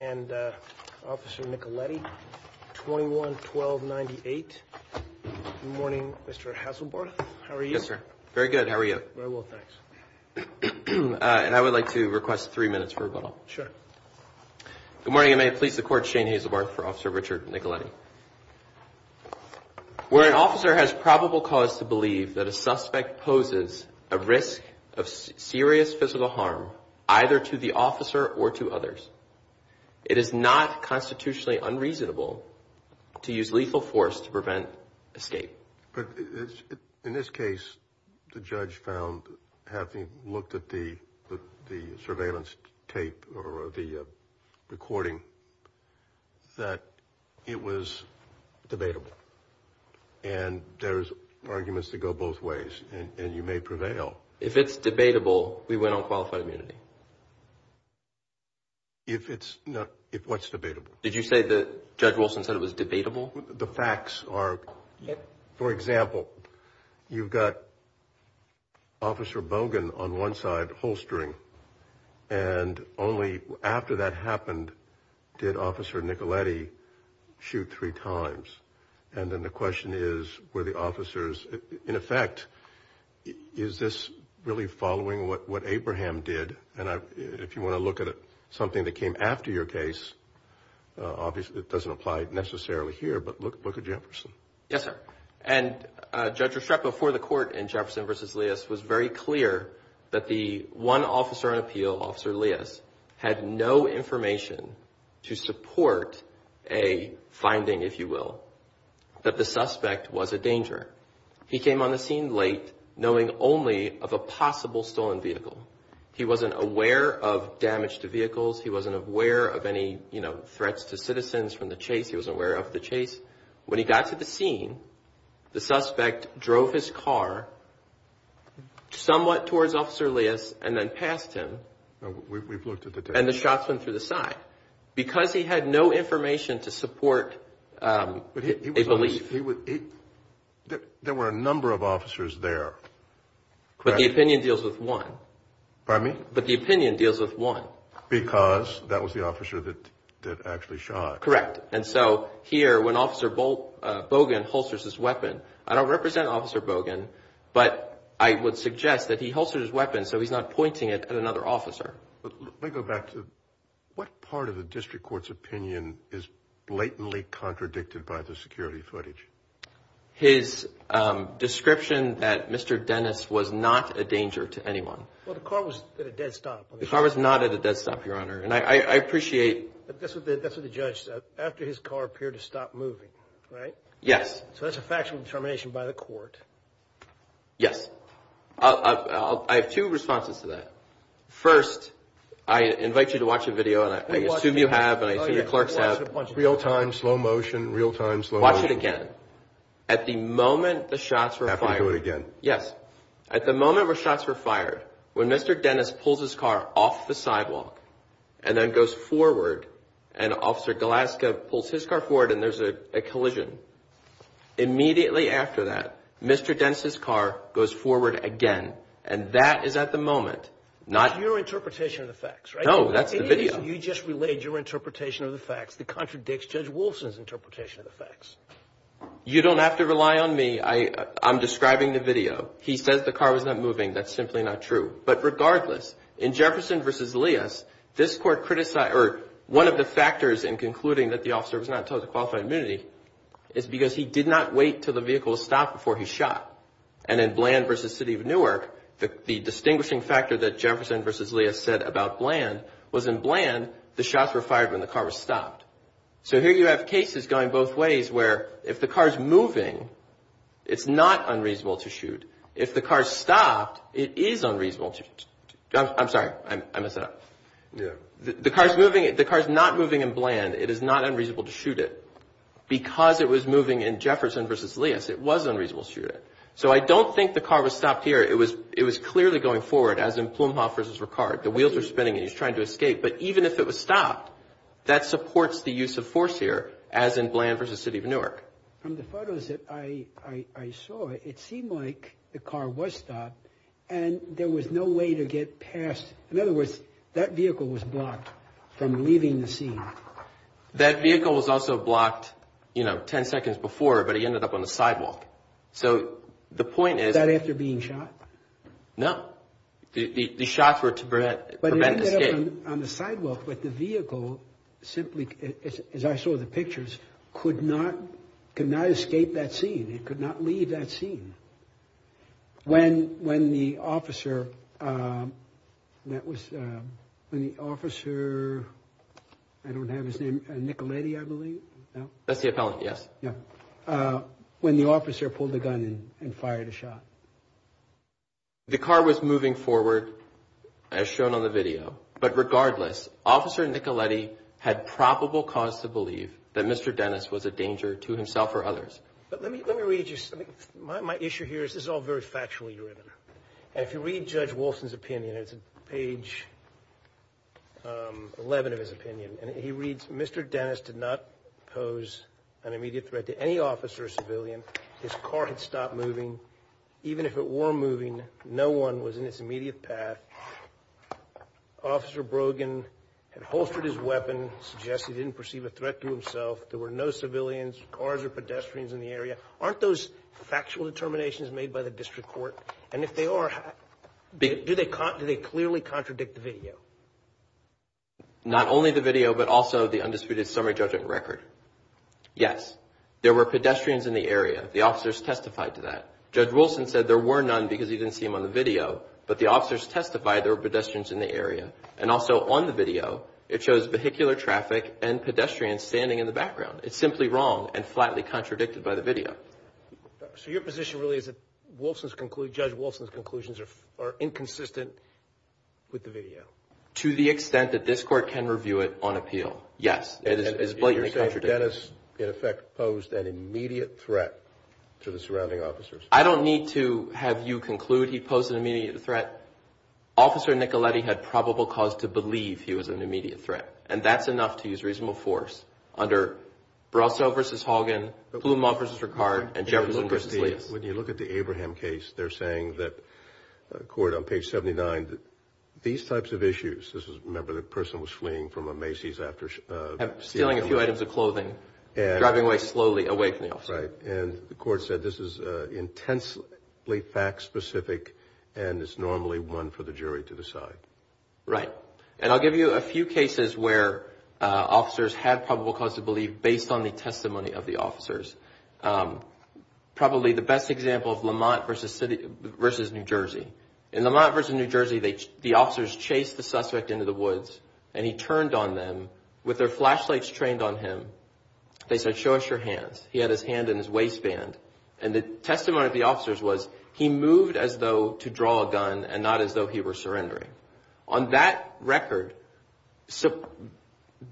And Officer Nicoletti, 21-12-98. Good morning, Mr. Haselbarth. How are you? Yes, sir. Very good. How are you? Very well, thanks. And I would like to request three minutes for rebuttal. Sure. Good morning, and may it please the Court, Shane Haselbarth for Officer Richard Nicoletti. Where an officer has probable cause to believe that a suspect poses a risk of serious physical harm, either to the officer or to others, it is not constitutionally unreasonable to use lethal force to prevent escape. But in this case, the judge found, having looked at the surveillance tape or the recording, that it was debatable, and there's arguments that go both ways, and you may prevail. If it's debatable, we went on qualified immunity. If it's not, if what's debatable? Did you say that Judge Wilson said it was debatable? The facts are, for example, you've got Officer Bogan on one side holstering, and only after that happened did Officer Nicoletti shoot three times. And then the question is, were the officers, in effect, is this really following what Abraham did? And if you want to look at something that came after your case, obviously it doesn't apply necessarily here, but look at Jefferson. Yes, sir. And Judge Ruschreff before the court in Jefferson v. Leas was very clear that the one officer on appeal, Officer Leas, had no information to support a finding, if you will, that the suspect was a danger. He came on the scene late knowing only of a possible stolen vehicle. He wasn't aware of damage to vehicles. He wasn't aware of any, you know, threats to citizens from the chase. He wasn't aware of the chase. When he got to the scene, the suspect drove his car somewhat towards Officer Leas and then passed him. We've looked at the tape. And the shots went through the side. Because he had no information to support a belief. There were a number of officers there. But the opinion deals with one. Pardon me? But the opinion deals with one. Because that was the officer that actually shot. Correct. And so here, when Officer Bogan holsters his weapon, I don't represent Officer Bogan. But I would suggest that he holsters his weapon so he's not pointing it at another officer. But let me go back to what part of the district court's opinion is blatantly contradicted by the security footage? His description that Mr. Dennis was not a danger to anyone. Well, the car was at a dead stop. The car was not at a dead stop, Your Honor. And I appreciate. That's what the judge said. After his car appeared to stop moving, right? Yes. So that's a factual determination by the court. Yes. I have two responses to that. First, I invite you to watch a video. And I assume you have. And I assume your clerks have. Real time, slow motion, real time, slow motion. Watch it again. At the moment the shots were fired. Have to do it again. Yes. At the moment where shots were fired, when Mr. Dennis pulls his car off the sidewalk and then goes forward. And Officer Golaska pulls his car forward and there's a collision. Immediately after that, Mr. Dennis's car goes forward again. And that is at the moment. Not your interpretation of the facts, right? No, that's the video. You just relayed your interpretation of the facts that contradicts Judge Wolfson's interpretation of the facts. You don't have to rely on me. I'm describing the video. He says the car was not moving. That's simply not true. But regardless, in Jefferson v. Leas, this Court criticized or one of the factors in concluding that the officer was not told to qualify immunity is because he did not wait until the vehicle stopped before he shot. And in Bland v. City of Newark, the distinguishing factor that Jefferson v. Leas said about Bland was in Bland, the shots were fired when the car was stopped. So here you have cases going both ways where if the car is moving, it's not unreasonable to shoot. If the car stopped, it is unreasonable. I'm sorry. I messed it up. The car is moving. The car is not moving in Bland. It is not unreasonable to shoot it. Because it was moving in Jefferson v. Leas, it was unreasonable to shoot it. So I don't think the car was stopped here. It was clearly going forward, as in Plumhoff v. Ricard. The wheels are spinning and he's trying to escape. But even if it was stopped, that supports the use of force here, as in Bland v. City of Newark. From the photos that I saw, it seemed like the car was stopped and there was no way to get past. In other words, that vehicle was blocked from leaving the scene. That vehicle was also blocked, you know, 10 seconds before, but he ended up on the sidewalk. So the point is... Was that after being shot? No. The shots were to prevent escape. On the sidewalk, but the vehicle simply, as I saw the pictures, could not escape that scene. It could not leave that scene. When the officer, I don't have his name, Nicoletti, I believe. That's the appellant, yes. When the officer pulled the gun and fired a shot. The car was moving forward as shown on the video. But regardless, Officer Nicoletti had probable cause to believe that Mr. Dennis was a danger to himself or others. But let me read you something. My issue here is, this is all very factually written. And if you read Judge Wolfson's opinion, it's page 11 of his opinion. And he reads, Mr. Dennis did not pose an immediate threat to any officer or civilian. His car had stopped moving. Even if it were moving, no one was in its immediate path. Officer Brogan had holstered his weapon, suggested he didn't perceive a threat to himself. There were no civilians, cars, or pedestrians in the area. Aren't those factual determinations made by the district court? And if they are, do they clearly contradict the video? Not only the video, but also the undisputed summary judgment record. Yes, there were pedestrians in the area. The officers testified to that. Judge Wolfson said there were none because he didn't see them on the video. But the officers testified there were pedestrians in the area. And also on the video, it shows vehicular traffic and pedestrians standing in the background. It's simply wrong and flatly contradicted by the video. So your position really is that Judge Wolfson's conclusions are inconsistent with the video? To the extent that this court can review it on appeal, yes. It is flatly contradicted. And you're saying Dennis, in effect, posed an immediate threat to the surrounding officers? I don't need to have you conclude. He posed an immediate threat. Officer Nicoletti had probable cause to believe he was an immediate threat. And that's enough to use reasonable force under Barroso v. Hogan, Plumont v. Ricard, and Jefferson v. Leas. When you look at the Abraham case, they're saying that, court, on page 79, that these types of issues, this is, remember, the person was fleeing from a Macy's after stealing a few items of clothing, driving away slowly, away from the officer. Right. And the court said this is intensely fact-specific, and it's normally one for the jury to decide. Right. And I'll give you a few cases where officers had probable cause to believe based on the testimony of the officers. Probably the best example of Lamont v. New Jersey. In Lamont v. New Jersey, the officers chased the suspect into the woods, and he turned on them with their flashlights trained on him. They said, show us your hands. He had his hand in his waistband, and the testimony of the officers was he moved as though to draw a gun and not as though he were surrendering. On that record,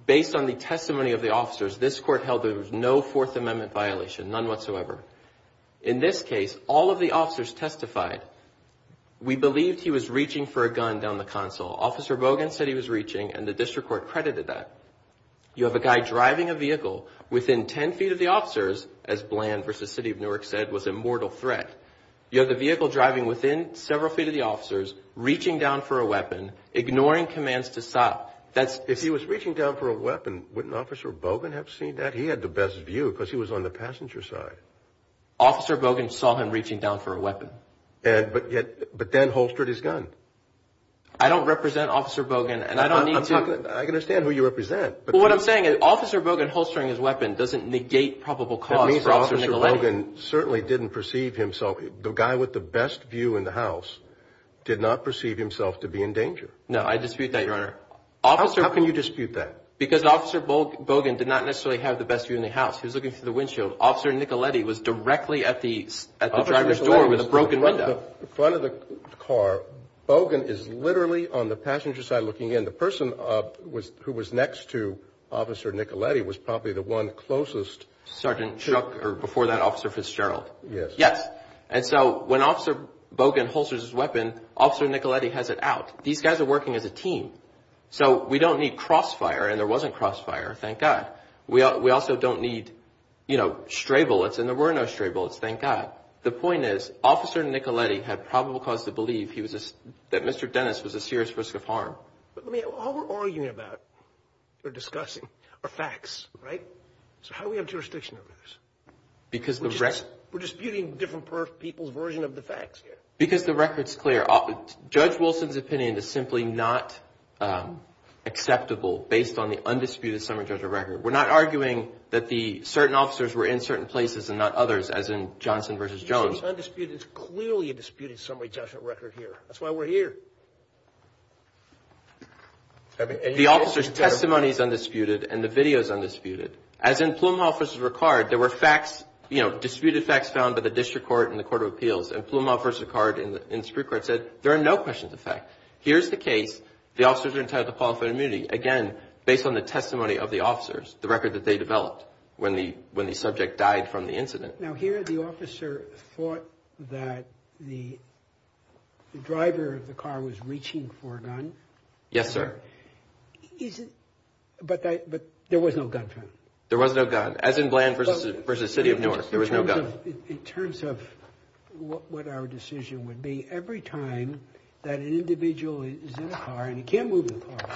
based on the testimony of the officers, this court held there was no Fourth Amendment violation, none whatsoever. In this case, all of the officers testified. We believed he was reaching for a gun down the console. Officer Hogan said he was reaching, and the district court credited that. You have a guy driving a vehicle within 10 feet of the officers, as Bland v. City of Newark said, was a mortal threat. You have the vehicle driving within several feet of the officers, reaching down for a weapon, ignoring commands to stop. If he was reaching down for a weapon, wouldn't Officer Hogan have seen that? He had the best view because he was on the passenger side. Officer Hogan saw him reaching down for a weapon. But then holstered his gun. I don't represent Officer Hogan, and I don't need to. I can understand who you represent. But what I'm saying is Officer Hogan holstering his weapon doesn't negate probable cause for Officer Nicoletti. Certainly didn't perceive himself. The guy with the best view in the house did not perceive himself to be in danger. No, I dispute that, Your Honor. How can you dispute that? Because Officer Hogan did not necessarily have the best view in the house. He was looking through the windshield. Officer Nicoletti was directly at the driver's door with a broken window. In front of the car, Hogan is literally on the passenger side looking in. And the person who was next to Officer Nicoletti was probably the one closest. Sergeant Chuck, or before that, Officer Fitzgerald. Yes. Yes. And so when Officer Hogan holsters his weapon, Officer Nicoletti has it out. These guys are working as a team. So we don't need crossfire, and there wasn't crossfire, thank God. We also don't need stray bullets, and there were no stray bullets, thank God. The point is Officer Nicoletti had probable cause to believe that Mr. Dennis was a serious risk of harm. But all we're arguing about, or discussing, are facts, right? So how do we have jurisdiction over this? Because the record... We're disputing different people's version of the facts here. Because the record's clear. Judge Wilson's opinion is simply not acceptable based on the undisputed summary judgment record. We're not arguing that certain officers were in certain places and not others, as in Johnson v. Jones. It's undisputed. It's clearly a disputed summary judgment record here. That's why we're here. The officer's testimony is undisputed, and the video is undisputed. As in Plum Hall v. Ricard, there were facts, you know, disputed facts found by the District Court and the Court of Appeals. And Plum Hall v. Ricard in the Supreme Court said there are no questions of fact. Here's the case. The officers are entitled to qualified immunity, again, based on the testimony of the officers, the record that they developed when the subject died from the incident. Now, here the officer thought that the driver of the car was reaching for a gun. Yes, sir. But there was no gun. There was no gun, as in Bland v. City of Newark. There was no gun. In terms of what our decision would be, every time that an individual is in a car, and he can't move the car,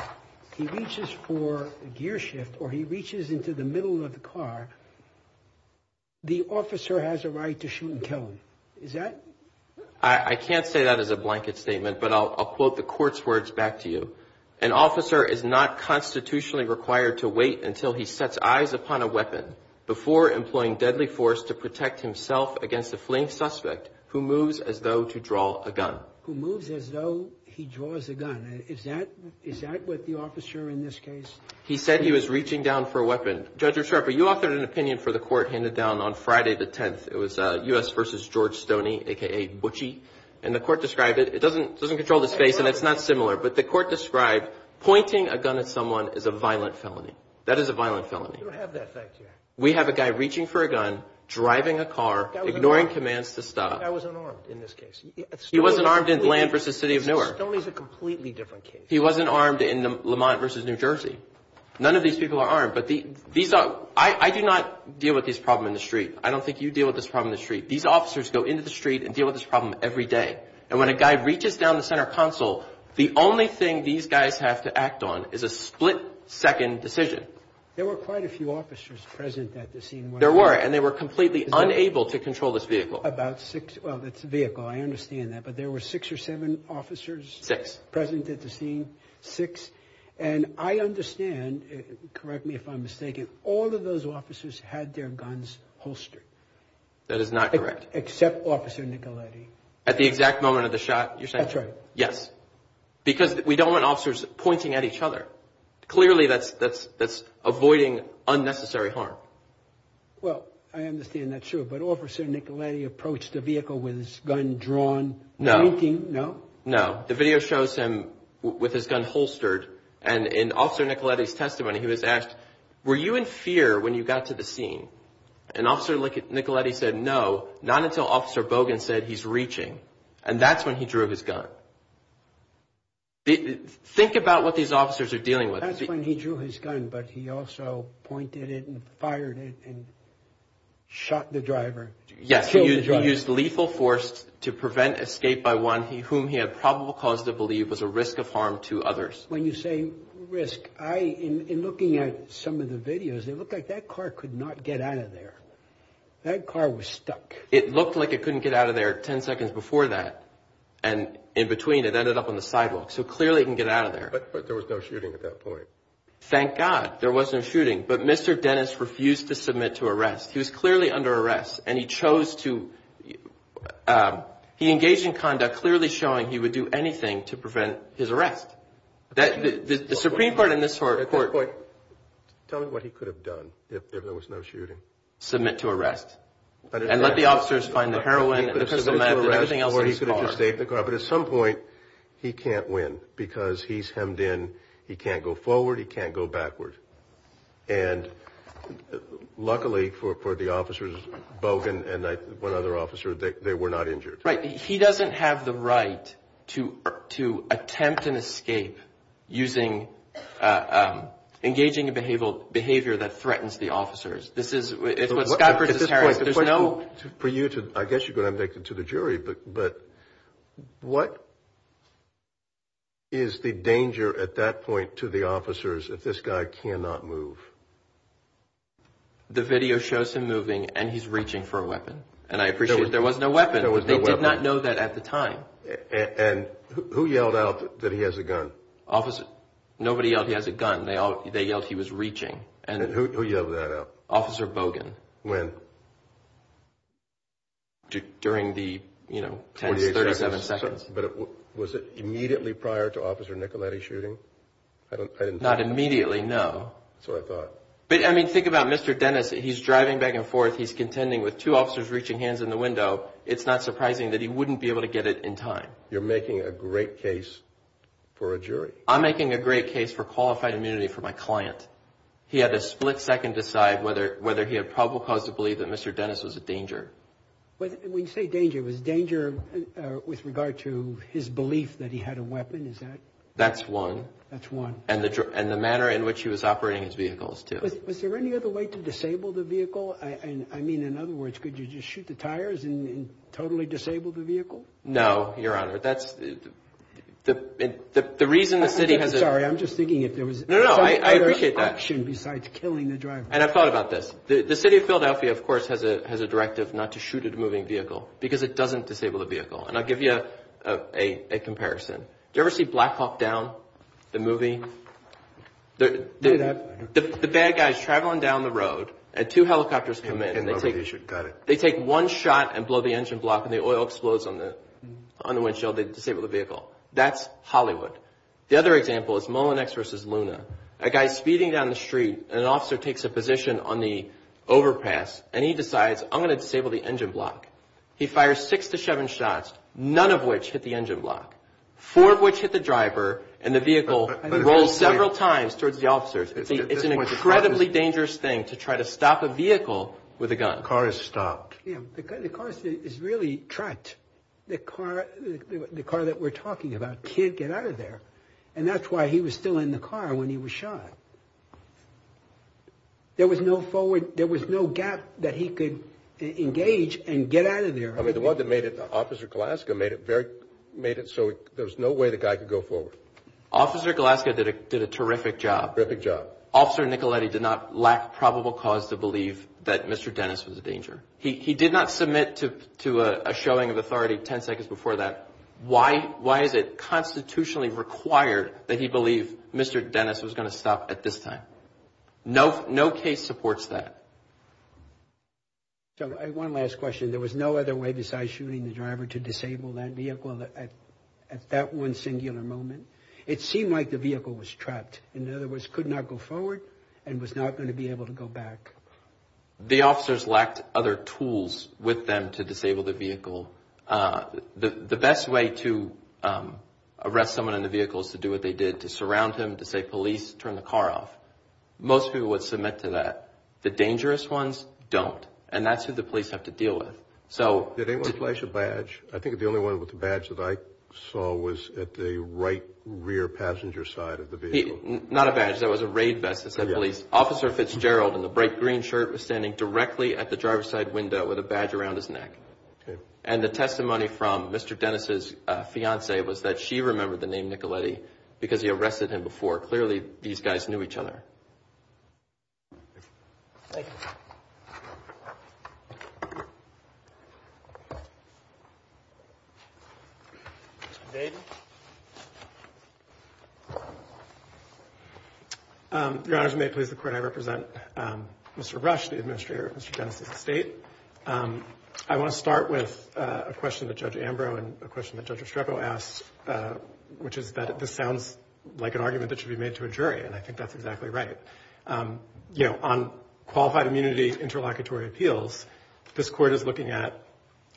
he reaches for a gear shift or he reaches into the middle of the car, the officer has a right to shoot and kill him. Is that? I can't say that as a blanket statement, but I'll quote the court's words back to you. An officer is not constitutionally required to wait until he sets eyes upon a weapon before employing deadly force to protect himself against a fleeing suspect who moves as though to draw a gun. Who moves as though he draws a gun. Is that what the officer in this case? He said he was reaching down for a weapon. Judge, you authored an opinion for the court handed down on Friday the 10th. It was U.S. v. George Stoney, a.k.a. Butchie. And the court described it. It doesn't control the space, and it's not similar, but the court described pointing a gun at someone as a violent felony. That is a violent felony. We don't have that fact here. We have a guy reaching for a gun, driving a car, ignoring commands to stop. That guy was unarmed in this case. He wasn't armed in Bland v. City of Newark. Stoney is a completely different case. He wasn't armed in Lamont v. New Jersey. None of these people are armed, but these are – I do not deal with this problem in the street. I don't think you deal with this problem in the street. These officers go into the street and deal with this problem every day. And when a guy reaches down the center console, the only thing these guys have to act on is a split-second decision. There were quite a few officers present at the scene. There were, and they were completely unable to control this vehicle. About six – well, it's a vehicle. I understand that. But there were six or seven officers present at the scene. Six. And I understand – correct me if I'm mistaken – all of those officers had their guns holstered. That is not correct. Except Officer Nicoletti. At the exact moment of the shot you're saying? That's right. Yes. Because we don't want officers pointing at each other. Clearly, that's avoiding unnecessary harm. Well, I understand that, sure. But Officer Nicoletti approached the vehicle with his gun drawn, pointing – No. No? No. The video shows him with his gun holstered. And in Officer Nicoletti's testimony, he was asked, were you in fear when you got to the scene? And Officer Nicoletti said, no, not until Officer Bogan said he's reaching. And that's when he drew his gun. Think about what these officers are dealing with. That's when he drew his gun, but he also pointed it and fired it and shot the driver. Yes, he used lethal force to prevent escape by one whom he had probable cause to believe was a risk of harm to others. When you say risk, in looking at some of the videos, it looked like that car could not get out of there. That car was stuck. It looked like it couldn't get out of there 10 seconds before that. And in between, it ended up on the sidewalk. So clearly it can get out of there. But there was no shooting at that point. Thank God. There wasn't a shooting. He was clearly under arrest. And he chose to – he engaged in conduct clearly showing he would do anything to prevent his arrest. The Supreme Court in this court – Tell me what he could have done if there was no shooting. Submit to arrest. And let the officers find the heroin and the pistol mag and everything else in the car. But at some point, he can't win because he's hemmed in. He can't go forward. He can't go backward. And luckily for the officers, Bogan and one other officer, they were not injured. Right. He doesn't have the right to attempt an escape using engaging in behavior that threatens the officers. This is – At this point, there's no – For you to – I guess you're going to have to make it to the jury. But what is the danger at that point to the officers if this guy cannot move? The video shows him moving and he's reaching for a weapon. There was no weapon. They did not know that at the time. And who yelled out that he has a gun? Nobody yelled he has a gun. They yelled he was reaching. And who yelled that out? Officer Bogan. When? During the tense 37 seconds. But was it immediately prior to Officer Nicoletti's shooting? Not immediately, no. That's what I thought. But I mean, think about Mr. Dennis. He's driving back and forth. He's contending with two officers reaching hands in the window. It's not surprising that he wouldn't be able to get it in time. You're making a great case for a jury. I'm making a great case for qualified immunity for my client. He had to split second decide whether he had probable cause to believe that Mr. Dennis was a danger. When you say danger, was danger with regard to his belief that he had a weapon? Is that – That's one. That's one. And the manner in which he was operating his vehicles, too. Was there any other way to disable the vehicle? I mean, in other words, could you just shoot the tires and totally disable the vehicle? No, Your Honor. That's – The reason the city has a – I'm sorry. I'm just thinking if there was – No, no. I appreciate that. Besides killing the driver. And I've thought about this. The city of Philadelphia, of course, has a directive not to shoot at a moving vehicle because it doesn't disable the vehicle. And I'll give you a comparison. Did you ever see Black Hawk Down, the movie? The bad guy is traveling down the road and two helicopters come in. Got it. They take one shot and blow the engine block and the oil explodes on the windshield. They disable the vehicle. That's Hollywood. The other example is Mullen X versus Luna. A guy is speeding down the street and an officer takes a position on the overpass and he decides, I'm going to disable the engine block. He fires six to seven shots, none of which hit the engine block. Four of which hit the driver and the vehicle rolled several times towards the officers. It's an incredibly dangerous thing to try to stop a vehicle with a gun. The car is stopped. Yeah. The car is really trapped. The car that we're talking about can't get out of there. And that's why he was still in the car when he was shot. There was no forward – there was no gap that he could engage and get out of there. I mean, the one that made it – Officer Gillespie did a terrific job. Terrific job. Officer Nicoletti did not lack probable cause to believe that Mr. Dennis was a danger. He did not submit to a showing of authority 10 seconds before that. Why is it constitutionally required that he believe Mr. Dennis was going to stop at this time? No case supports that. So, one last question. There was no other way besides shooting the driver to disable that vehicle at that one singular moment? It seemed like the vehicle was trapped. In other words, could not go forward and was not going to be able to go back. The officers lacked other tools with them to disable the vehicle. The best way to arrest someone in the vehicle is to do what they did, to surround him, to say, police, turn the car off. Most people would submit to that. The dangerous ones don't. And that's who the police have to deal with. Did anyone flash a badge? I think the only one with a badge that I saw was at the right rear passenger side of the vehicle. Not a badge. That was a raid vest that said police. Officer Fitzgerald in the bright green shirt was standing directly at the driver's side window with a badge around his neck. And the testimony from Mr. Dennis' fiancee was that she remembered the name Nicoletti because he arrested him before. Clearly, these guys knew each other. Mr. Dade? Your Honor, if you may please, the court, I represent Mr. Rush, the administrator of Mr. Dennis' estate. I want to start with a question that Judge Ambrose and a question that Judge Estrepo asked, which is that this sounds like an argument that should be made to a jury, and I think that's exactly right. You know, on qualified immunity interlocutory appeals, this court is looking at,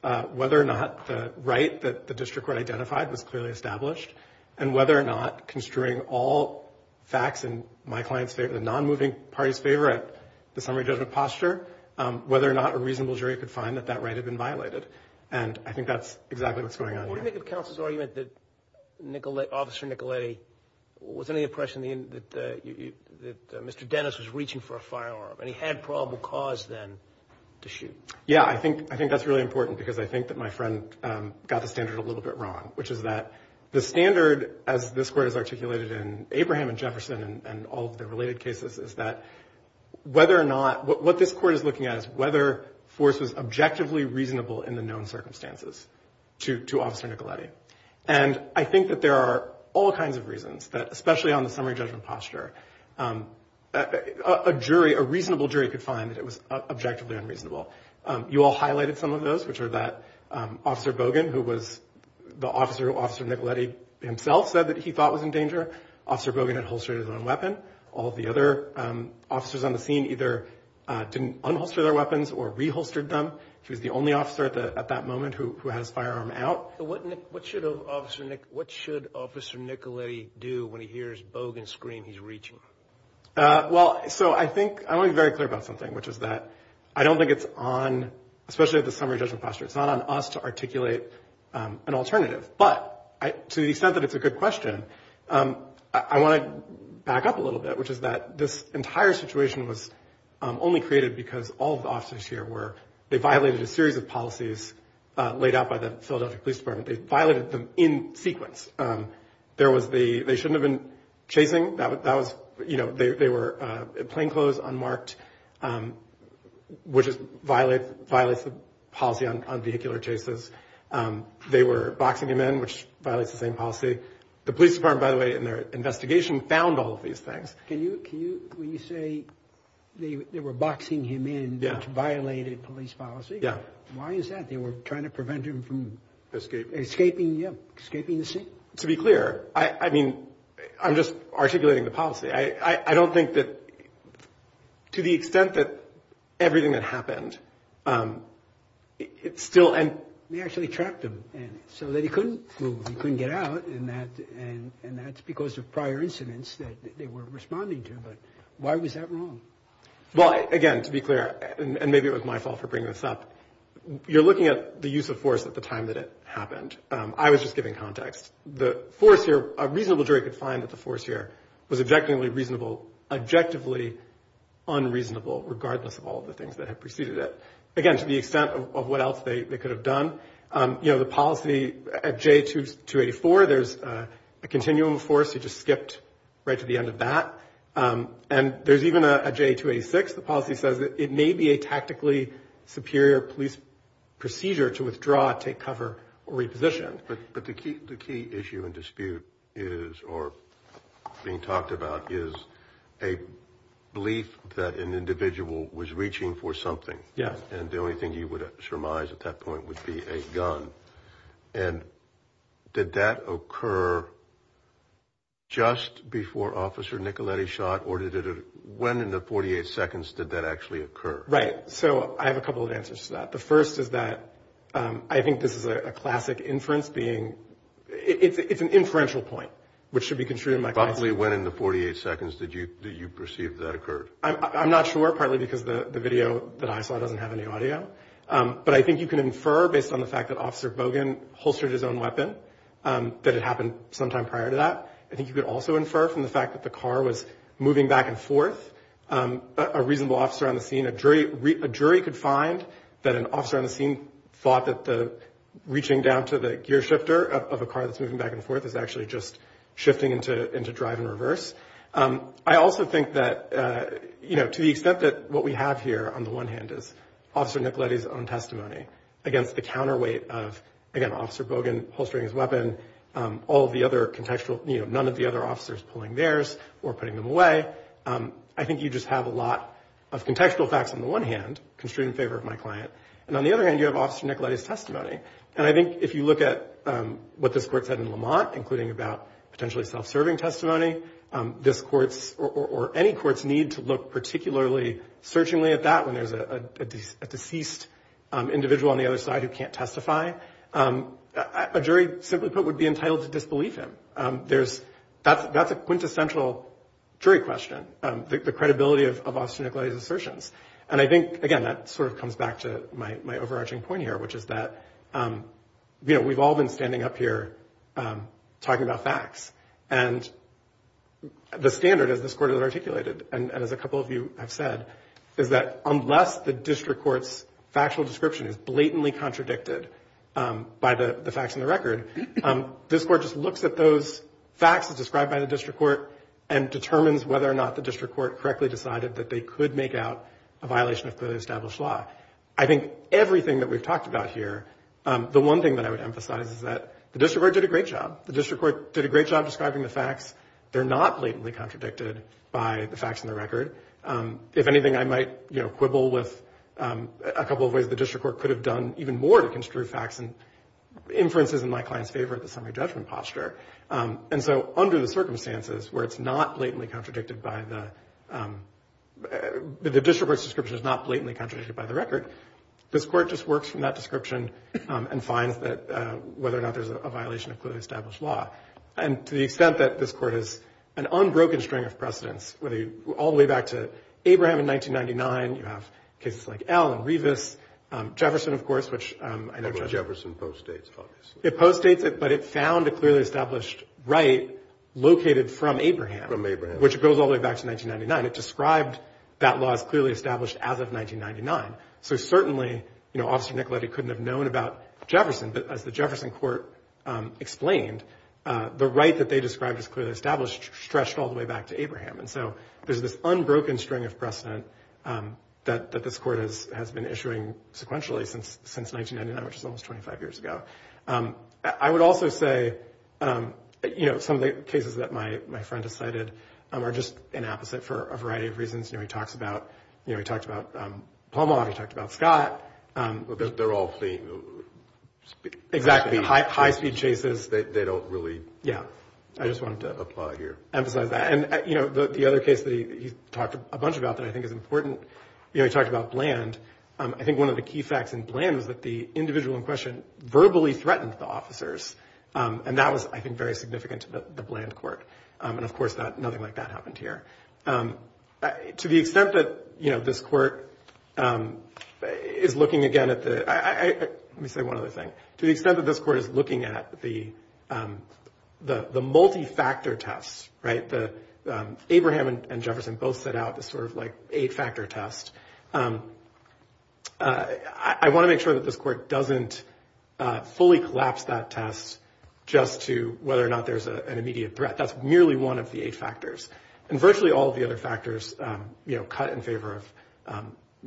you know, whether or not the right that the district court identified was clearly established and whether or not, construing all facts in my client's favor, the non-moving party's favor at the summary judgment posture, whether or not a reasonable jury could find that that right had been violated. And I think that's exactly what's going on here. What do you think of counsel's argument that Officer Nicoletti was under the impression that Mr. Dennis was reaching for a firearm and he had probable cause then to shoot? Yeah, I think that's really important because I think that my friend got the standard a little bit wrong, which is that the standard, as this court has articulated in Abraham and Jefferson and all of the related cases, is that whether or not, what this court is looking at is whether force was objectively reasonable in the known circumstances to Officer Nicoletti. And I think that there are all kinds of reasons that, especially on the summary judgment posture, a reasonable jury could find that it was objectively unreasonable. You all highlighted some of those, which are that Officer Bogan, who was the officer Officer Nicoletti himself said that he thought was in danger. Officer Bogan had holstered his own weapon. All of the other officers on the scene either didn't unholster their weapons or reholstered them. He was the only officer at that moment who had his firearm out. What should Officer Nicoletti do when he hears Bogan scream he's reaching? Well, so I think, I want to be very clear about something, which is that I don't think it's on, especially at the summary judgment posture, it's not on us to articulate an alternative. But to the extent that it's a good question, I want to back up a little bit, which is that this entire situation was only created because all of the officers here were, they violated a series of policies laid out by the Philadelphia Police Department. They violated them in sequence. There was the, they shouldn't have been chasing. That was, you know, they were plainclothes, unmarked, which violates the policy on vehicular chases. They were boxing him in, which violates the same policy. The police department, by the way, in their investigation found all of these things. Can you, when you say they were boxing him in, which violated police policy, why is that? They were trying to prevent him from escaping the scene? To be clear, I mean, I'm just articulating the policy. I don't think that, to the extent that everything that happened, it still, and... They actually trapped him, so that he couldn't move, he couldn't get out, and that's because of prior incidents that they were responding to, but why was that wrong? Well, again, to be clear, and maybe it was my fault for bringing this up, you're looking at the use of force at the time that it happened. I was just giving context. The force here, a reasonable jury could find that the force here was objectively reasonable, objectively unreasonable, regardless of all the things that had preceded it. Again, to the extent of what else they could have done, you know, the policy at J284, there's a continuum of force, he just skipped right to the end of that, and there's even a J286, the policy says that it may be a tactically superior police procedure to withdraw, take cover, or reposition. But the key issue and dispute being talked about is a belief that an individual was reaching for something, and the only thing you would surmise at that point would be a gun, and did that occur just before Officer Nicoletti shot, or when in the 48 seconds did that actually occur? Right, so I have a couple of answers to that. The first is that I think this is a classic inference being it's an inferential point, which should be construed in my class. Probably when in the 48 seconds did you perceive that occurred? I'm not sure, partly because the video that I saw doesn't have any audio, but I think you can infer based on the fact that Officer Bogan holstered his own weapon, that it happened sometime prior to that. I think you could also infer from the fact that the car was moving back and forth, a reasonable officer on the scene, a jury could find that an officer on the scene thought that the reaching down to the gear shifter of a car that's moving back and forth is actually just shifting into drive and reverse. I also think that to the extent that what we have here on the one hand is Officer Nicoletti's own testimony against the counterweight of Officer Bogan holstering his weapon, all of the other contextual, none of the other officers pulling theirs or putting them away, I think you just have a lot of contextual facts on the one hand, construed in favor of my client, and on the other hand you have Officer Nicoletti's testimony. And I think if you look at what this Court said in Lamont, including about potentially self-serving testimony, this Court's, or any Court's need to look particularly searchingly at that when there's a deceased individual on the other side who can't testify, a jury, simply put, would be entitled to disbelief him. That's a quintessential jury question, the credibility of Officer Nicoletti's assertions. And I think, again, that sort of comes back to my overarching point here, which is that we've all been standing up here talking about facts, and the standard, as this Court has articulated, and as a couple of you have said, is that unless the District Court's contradicted by the facts in the record, this Court just looks at those facts as described by the District Court and determines whether or not the District Court correctly decided that they could make out a violation of clearly established law. I think everything that we've talked about here, the one thing that I would emphasize is that the District Court did a great job. The District Court did a great job describing the facts. They're not blatantly contradicted by the facts in the record. If anything, I might quibble with a couple of ways the District Court could have done even more to construe facts and inferences in my client's favor at the summary judgment posture. Under the circumstances where it's not blatantly contradicted by the the District Court's description is not blatantly contradicted by the record, this Court just works from that description and finds that whether or not there's a violation of clearly established law. To the extent that this Court has an unbroken string of precedents, all the way back to Abraham in 1999, you have cases like Al and Revis, Jefferson, of course, which I know... But it found a clearly established right located from Abraham. Which goes all the way back to 1999. It described that law as clearly established as of 1999. Certainly, Officer Nicoletti couldn't have known about Jefferson, but as the Jefferson Court explained, the right that they described as clearly established stretched all the way back to Abraham. There's this unbroken string of precedent that this Court has been issuing sequentially since 1999, which is almost 25 years ago. I would also say some of the cases that my friend has cited are just an apposite for a variety of reasons. He talks about... He talked about Palma. He talked about Scott. They're all high-speed chases. They don't really apply here. I just wanted to emphasize that. The other case that he talked a bunch about that I think is important, he talked about Bland. I think one of the key facts in Bland is that the individual in question verbally threatened the officers. That was, I think, very significant to the Bland Court. Of course, nothing like that happened here. To the extent that this Court is looking again at the... Let me say one other thing. To the extent that this Court is looking at the multi-factor test, Abraham and Jefferson both set out this eight-factor test, I want to make sure that this Court doesn't fully collapse that test just to whether or not there's an immediate threat. That's merely one of the eight factors. And virtually all of the other factors cut in favor of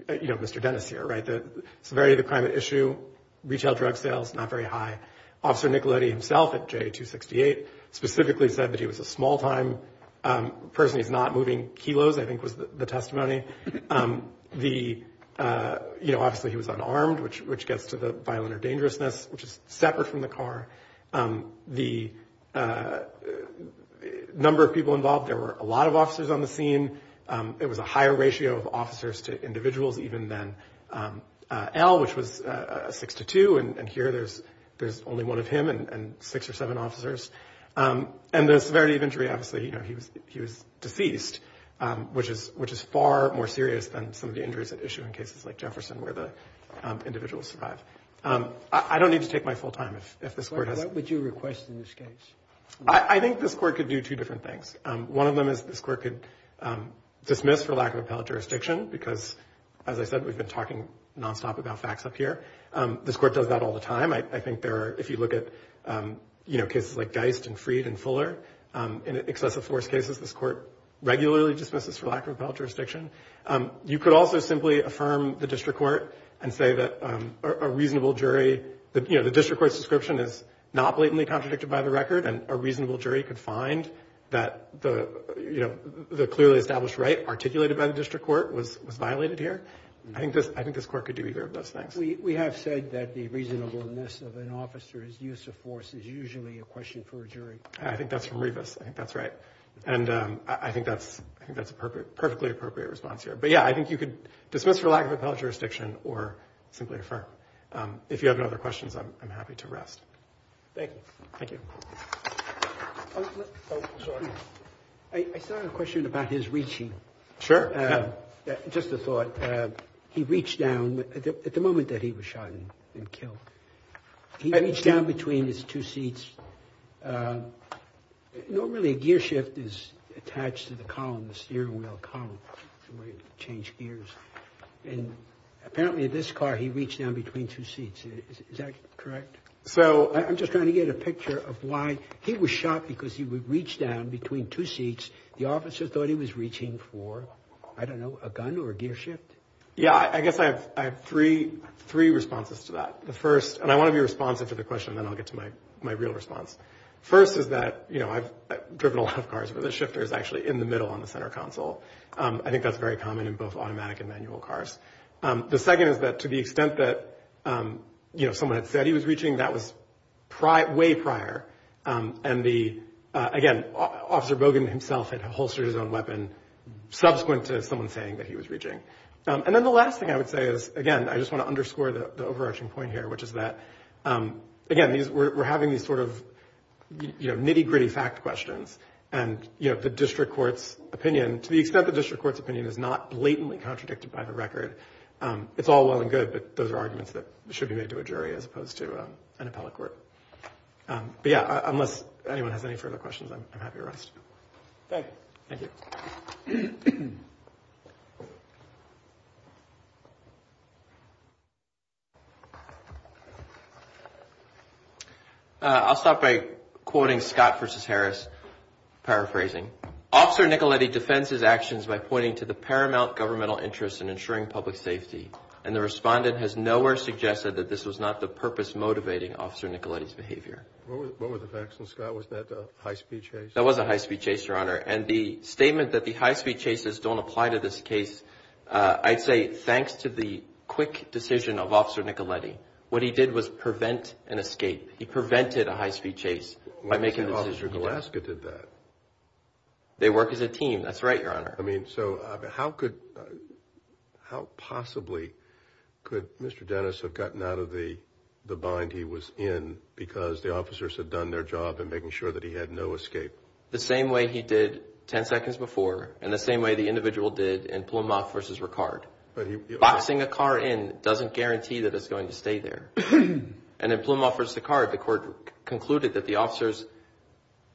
Mr. Dennis here. Severity of the crime at issue, retail drug sales, not very high. Officer Nicoletti himself at JA-268 specifically said that he was a small-time person. He's not moving kilos, I think was the testimony. Obviously, he was unarmed, which gets to the violent or dangerousness, which is separate from the car. The number of people involved, there were a lot of officers on the scene. It was a higher ratio of officers to individuals even than Al, which was a 6-2, and here there's only one of him and six or seven officers. And the severity of injury, obviously, he was deceased, which is far more serious than some of the injuries at issue in cases like Jefferson where the individuals survive. I don't need to take my full time. What would you request in this case? I think this Court could do two different things. One of them is this Court could dismiss for lack of appellate jurisdiction, because as I said, we've been talking nonstop about facts up here. This Court does that all the time. I think there are, if you look at cases like Geist and Freed and Fuller, in excessive force cases, this Court regularly dismisses for lack of appellate jurisdiction. You could also simply affirm the District Court and say that a reasonable jury, the District Court's description is not blatantly contradicted by the record and a reasonable jury could find that the clearly established right articulated by the District Court was violated here. I think this Court could do either of those things. We have said that the reasonableness of an officer's use of force is usually a question for a jury. I think that's from Revis. I think that's right. I think that's a perfectly appropriate response here. But yeah, I think you could dismiss for lack of appellate jurisdiction or simply affirm. If you have other questions, I'm happy to rest. Thank you. I still have a question about his reaching. Sure. Just a thought. He reached down, at the moment that he was shot and killed, he reached down between his two seats. Normally a gear shift is attached to the column, the steering wheel column where you change gears. Apparently in this car he reached down between two seats. Is that correct? I'm just trying to get a picture of why he was shot because he reached down between two seats. The officer thought he was reaching for I don't know, a gun or a gear shift. Yeah, I guess I have three responses to that. The first, and I want to be responsive to the question and then I'll get to my real response. First is that I've driven a lot of cars where the shifter is actually in the middle on the center console. I think that's very common in both automatic and manual cars. The second is that to the extent that someone had said he was reaching, that was way prior. And the, again, Officer Bogan himself had holstered his own weapon subsequent to someone saying that he was reaching. And then the last thing I would say is, again, I just want to underscore the overarching point here, which is that again, we're having these sort of nitty gritty fact questions and the district court's opinion, to the extent the district court's opinion is not blatantly contradicted by the record. It's all well and good, but those are arguments that should be made to a jury as opposed to an appellate court. But yeah, unless anyone has any further questions, I'm happy to rest. Thank you. I'll stop by quoting Scott v. Harris, paraphrasing. Officer Nicoletti defends his actions by pointing to the paramount governmental interest in ensuring public safety. And the respondent has nowhere suggested that this was not the purpose motivating Officer Nicoletti's behavior. What were the facts, Scott? Was that a high-speed chase? That was a high-speed chase, Your Honor. don't apply to this case, I'd say thanks to the quick decision of Officer Nicoletti. What he did was prevent an escape. He prevented a high-speed chase by making the decision he wanted. They work as a team. That's right, Your Honor. I mean, so how could how possibly could Mr. Dennis have gotten out of the bind he was in because the officers had done their job in making sure that he had no escape? The same way he did ten seconds before and the same way the individual did in tossing a car in doesn't guarantee that it's going to stay there. And if Blum offers the car, the court concluded that the officers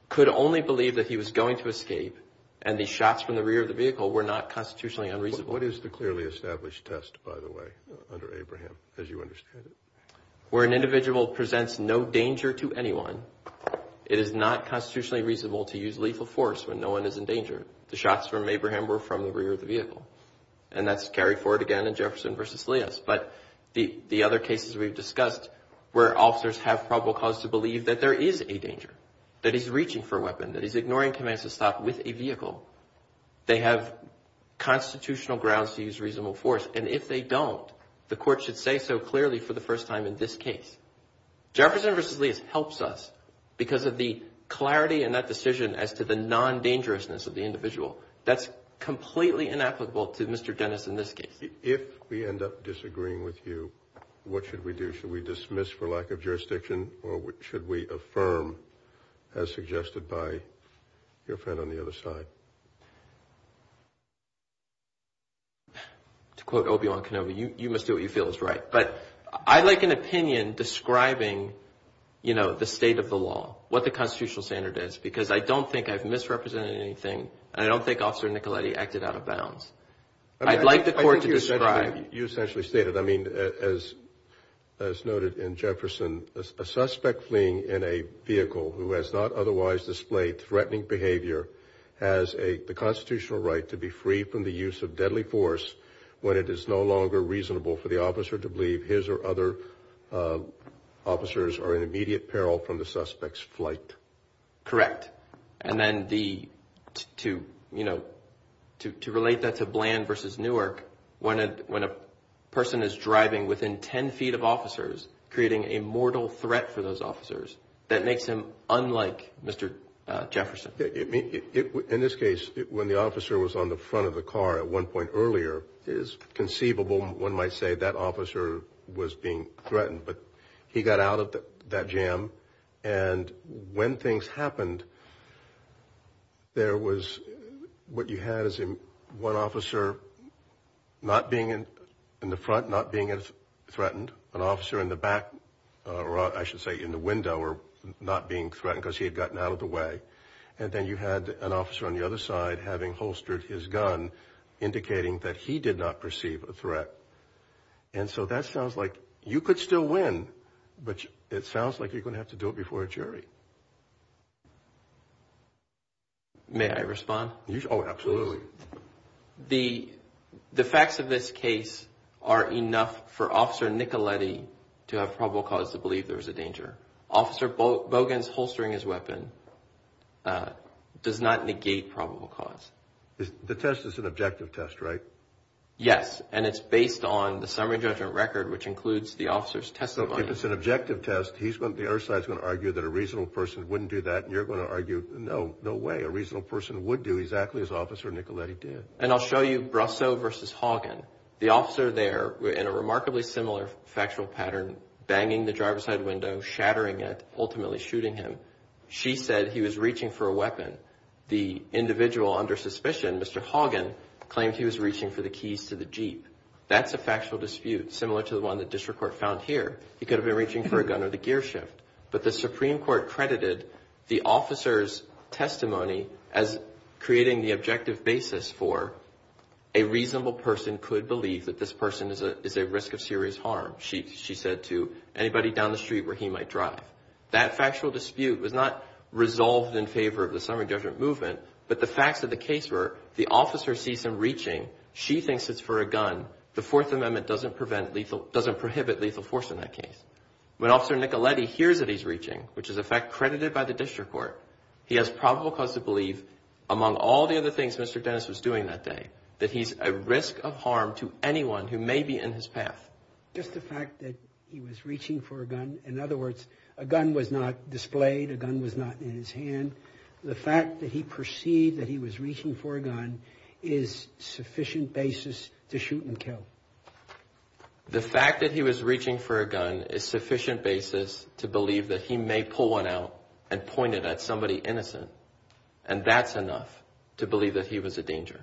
could only believe that he was going to escape and the shots from the rear of the vehicle were not constitutionally unreasonable. What is the clearly established test, by the way, under Abraham, as you understand it? Where an individual presents no danger to anyone, it is not constitutionally reasonable to use lethal force when no one is in danger. The shots from Abraham were from the rear of the vehicle. And that's carried forward again in Jefferson v. Elias. But the other cases we've discussed where officers have probable cause to believe that there is a danger, that he's reaching for a weapon, that he's ignoring commands to stop with a vehicle, they have constitutional grounds to use reasonable force. And if they don't, the court should say so clearly for the first time in this case. Jefferson v. Elias helps us because of the clarity in that decision as to the non-dangerousness of the individual. That's completely inapplicable to Mr. Dennis in this case. If we end up disagreeing with you, what should we do? Should we dismiss for lack of jurisdiction, or should we affirm, as suggested by your friend on the other side? To quote Obi-Wan Kenobi, you must do what you feel is right. But I like an opinion describing the state of the law, what the constitutional standard is. Because I don't think I've misrepresented anything, and I don't think Officer Nicoletti acted out of bounds. I'd like the court to describe... You essentially stated, I mean, as noted in Jefferson, a suspect fleeing in a vehicle who has not otherwise displayed threatening behavior has the constitutional right to be free from the use of deadly force when it is no longer reasonable for the officer to believe his or other officers are in immediate peril from the suspect's flight. Correct. And then the... to, you know, to relate that to Bland versus Newark, when a person is driving within 10 feet of officers, creating a mortal threat for those officers, that makes him unlike Mr. Jefferson. In this case, when the officer was on the front of the car at one point earlier, it is conceivable one might say that officer was being threatened, but he got out of that jam, and when things happened, there was, what you had is one officer not being in the front, not being threatened, an officer in the back, or I should say in the window, not being threatened because he had gotten out of the way, and then you had an officer on the other side having holstered his gun, indicating that he did not perceive a threat. And so that sounds like you could still win, but it sounds like you're going to have to do it before a jury. May I respond? Oh, absolutely. The facts of this case are enough for Officer Nicoletti to have probable cause to believe there was a danger. Officer Bogans holstering his weapon does not negate probable cause. The test is an objective test, right? Yes, and it's based on the summary judgment record, which includes the officer's testimony. If it's an objective test, he's going to, the other side's going to argue that a reasonable person wouldn't do that, and you're going to argue, no, no way, a reasonable person would do exactly as Officer Nicoletti did. And I'll show you Brasso versus Haugen. The officer there, in a remarkably similar factual pattern, banging the driver's side window, shattering it, ultimately shooting him. She said he was reaching for a weapon. The individual under suspicion, Mr. Haugen, claimed he was reaching for the keys to the Jeep. That's a factual dispute, similar to the one the district court found here. He could have been reaching for a gun or the gear shift. But the Supreme Court credited the officer's testimony as creating the objective basis for a reasonable person could believe that this person is at risk of serious harm. She said to anybody down the street where he might drive. That factual dispute was not resolved in favor of the summary judgment movement, but the case where the officer sees him reaching, she thinks it's for a gun. The Fourth Amendment doesn't prevent lethal, doesn't prohibit lethal force in that case. When Officer Nicoletti hears that he's reaching, which is a fact credited by the district court, he has probable cause to believe, among all the other things Mr. Dennis was doing that day, that he's at risk of harm to anyone who may be in his path. Just the fact that he was reaching for a gun, in other words, a gun was not displayed, a gun was not in his hand. The fact that he perceived that he was reaching for a gun is sufficient basis to shoot and kill. The fact that he was reaching for a gun is sufficient basis to believe that he may pull one out and point it at somebody innocent. And that's enough to believe that he was a danger.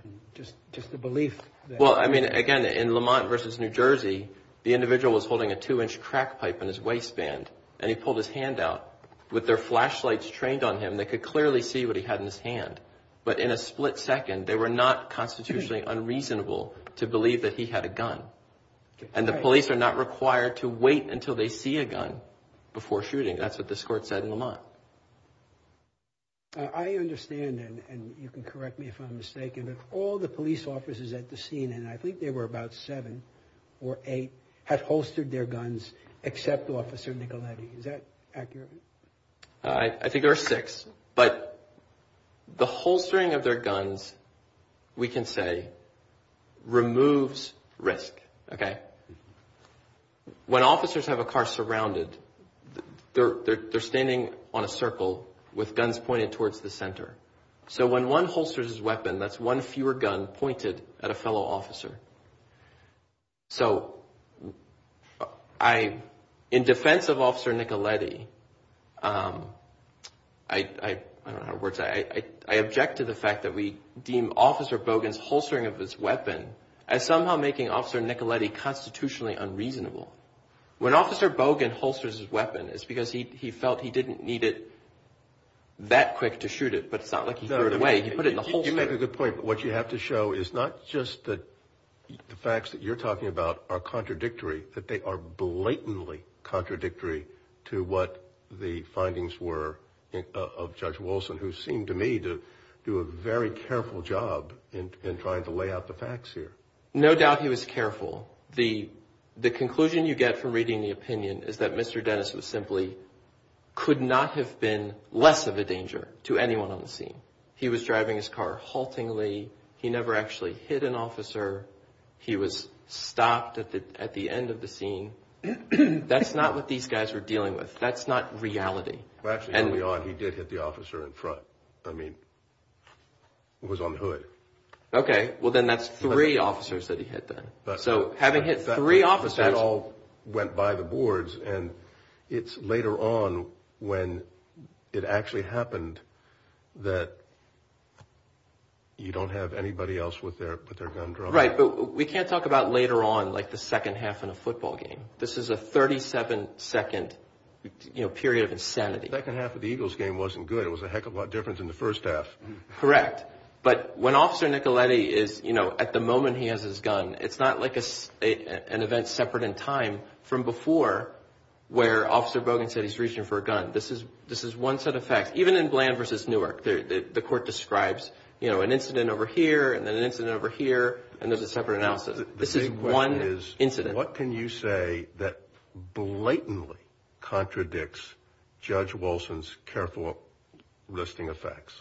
Just the belief Well, I mean, again, in Lamont versus New Jersey, the individual was holding a two-inch crack pipe in his waistband and he pulled his hand out with their flashlights trained on him. They could clearly see what he had in his hand. But in a split second, they were not constitutionally unreasonable to believe that he had a gun. And the police are not required to wait until they see a gun before shooting. That's what this court said in Lamont. I understand and you can correct me if I'm mistaken, but all the police officers at the scene, and I think there were about seven or eight, had holstered their guns except to Officer Nicoletti. Is that accurate? I think there were six. But the holstering of their guns we can say removes risk. When officers have a car surrounded, they're standing on a circle with guns pointed towards the center. So when one holsters his weapon, that's one fewer gun pointed at a fellow officer. So I in defense of Officer Nicoletti, I don't know how to word it, I object to the fact that we deem Officer Bogan's holstering of his weapon as somehow making Officer Nicoletti constitutionally unreasonable. When Officer Bogan holsters his weapon, it's because he felt he didn't need it that quick to shoot it, but it's not like he threw it away. You make a good point, but what you have to show is not just that the facts that you're talking about are contradictory, that they are blatantly contradictory to what the findings were of Judge Wilson, who seemed to me to do a very careful job in trying to lay out the facts here. No doubt he was careful. The conclusion you get from reading the opinion is that Mr. Dennis was simply could not have been less of a danger to anyone on the scene. He was driving his car haltingly. He never actually hit an officer. He was stopped at the end of the scene. That's not what these guys were dealing with. That's not reality. Actually, early on, he did hit the officer in front. I mean, was on the hood. Okay, well then that's three officers that he hit then. So, having hit three officers... That all went by the boards and it's later on when it actually happened that you don't have anybody else with their gun dropped. Right, but we can't talk about later on like the second half in a football game. This is a 37 second period of insanity. The second half of the Eagles game wasn't good. It was a heck of a lot different than the first half. Correct, but when Officer Nicoletti is at the moment he has his gun, it's not like an event where Officer Bogan said he's reaching for a gun. This is one set of facts. Even in Bland v. Newark, the court describes an incident over here and then an incident over here and there's a separate analysis. This is one incident. What can you say that blatantly contradicts Judge Wilson's careful listing of facts?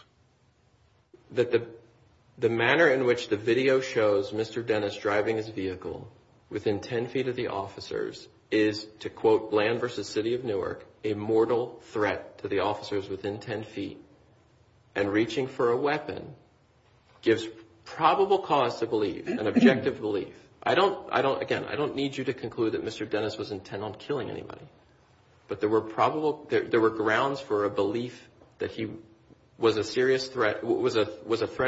The manner in which the video shows Mr. Dennis driving his vehicle within 10 feet of the officers is, to quote Bland v. City of Newark, a mortal threat to the officers within 10 feet and reaching for a weapon gives probable cause to believe, an objective belief. Again, I don't need you to conclude that Mr. Dennis was intent on killing anybody, but there were grounds for a belief that he was a threat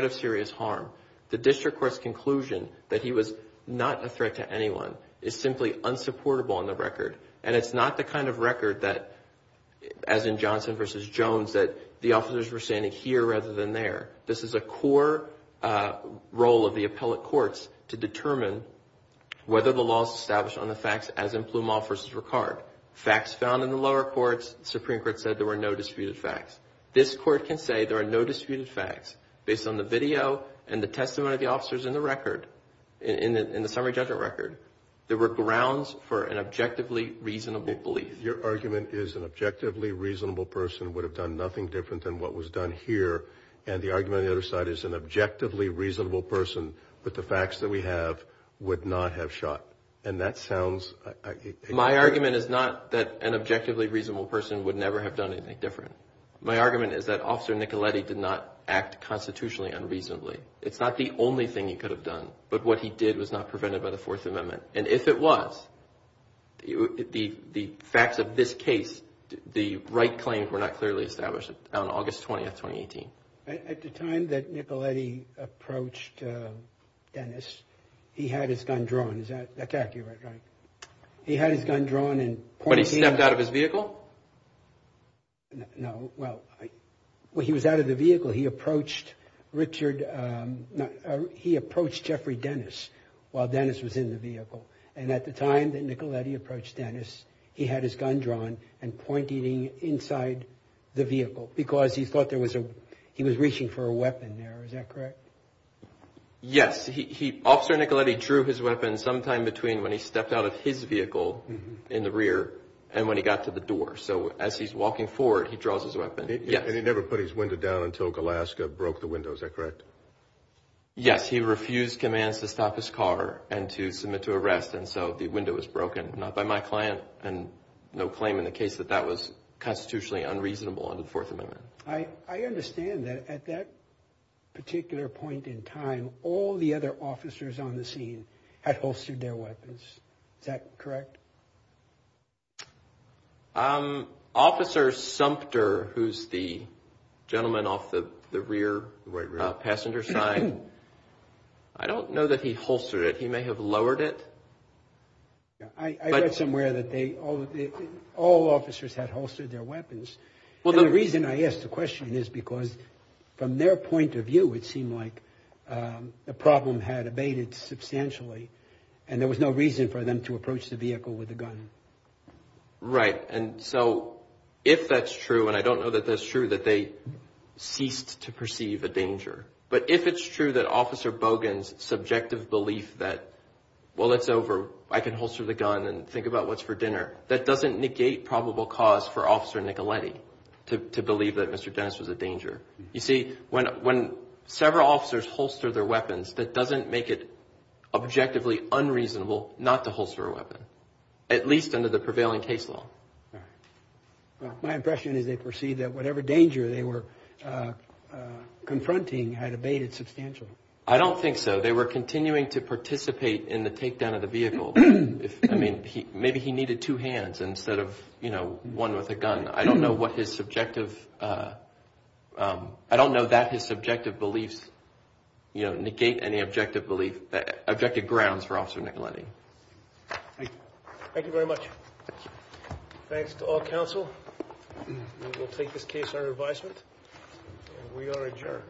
of serious harm. The district court's conclusion that he was not a threat to anyone is simply unsupportable on the record and it's not the kind of record that, as in Johnson v. Jones, that the officers were standing here rather than there. This is a core role of the appellate courts to determine whether the law is established on the facts as in Plumall v. Ricard. Facts found in the lower courts, the Supreme Court said there were no disputed facts. This court can say there are no disputed facts based on the video and the testimony of the officers in the record, in the summary judgment record. There were grounds for an objectively reasonable belief. Your argument is an objectively reasonable person would have done nothing different than what was done here, and the argument on the other side is an objectively reasonable person with the facts that we have would not have shot, and that sounds... My argument is not that an objectively reasonable person would never have done anything different. My argument is that Officer Nicoletti did not act constitutionally unreasonably. It's not the only thing he could have done, but what he did was not prevented by the Fourth Amendment, and if it was, the facts of this case, the right claims were not clearly established on August 20th, 2018. At the time that Nicoletti approached Dennis, he had his gun drawn. Is that accurate? He had his gun drawn and pointed... When he stepped out of his vehicle? No. Well, when he was out of the vehicle he approached Richard... He approached Jeffrey Dennis while Dennis was in the vehicle, and at the time that Nicoletti approached Dennis, he had his gun drawn and pointed inside the vehicle because he thought there was a... He was reaching for a weapon there. Is that correct? Yes. Officer Nicoletti drew his weapon sometime between when he stepped out of his vehicle in the rear and when he got to the door, so as he's walking forward, he draws his weapon. Yes. And he never put his window down until Glasgow broke the window. Is that correct? Yes. He refused commands to stop his car and to submit to arrest, and so the window was broken. Not by my client, and no claim in the case that that was constitutionally unreasonable under the Fourth Amendment. I understand that at that particular point in time all the other officers on the scene had holstered their weapons. Is that correct? Officer Sumpter, who's the gentleman off the rear passenger sign, I don't know that he holstered it. He may have lowered it. I read somewhere that all officers had holstered their weapons, and the reason I asked the question is because from their point of view, it seemed like the problem had abated substantially, and there was no reason for them to approach the vehicle with a gun. Right. And so if that's true, and I don't know that that's true, that they ceased to perceive a danger, but if it's true that Officer Bogan's subjective belief that well, it's over, I can holster the gun and think about what's for dinner, that doesn't negate probable cause for Officer Nicoletti to believe that Mr. Dennis was a danger. You see, when several officers holster their weapons, that doesn't make it objectively unreasonable not to holster a weapon, at least under the prevailing case law. My impression is they perceived that whatever danger they were confronting had abated substantially. I don't think so. They were continuing to participate in the takedown of the vehicle. I mean, maybe he needed two hands instead of one with a gun. I don't know what his subjective I don't know that his subjective beliefs negate any objective belief, objective grounds for Officer Nicoletti. Thank you very much. Thanks to all counsel. We will take this case under advisement, and we are adjourned. Thank you.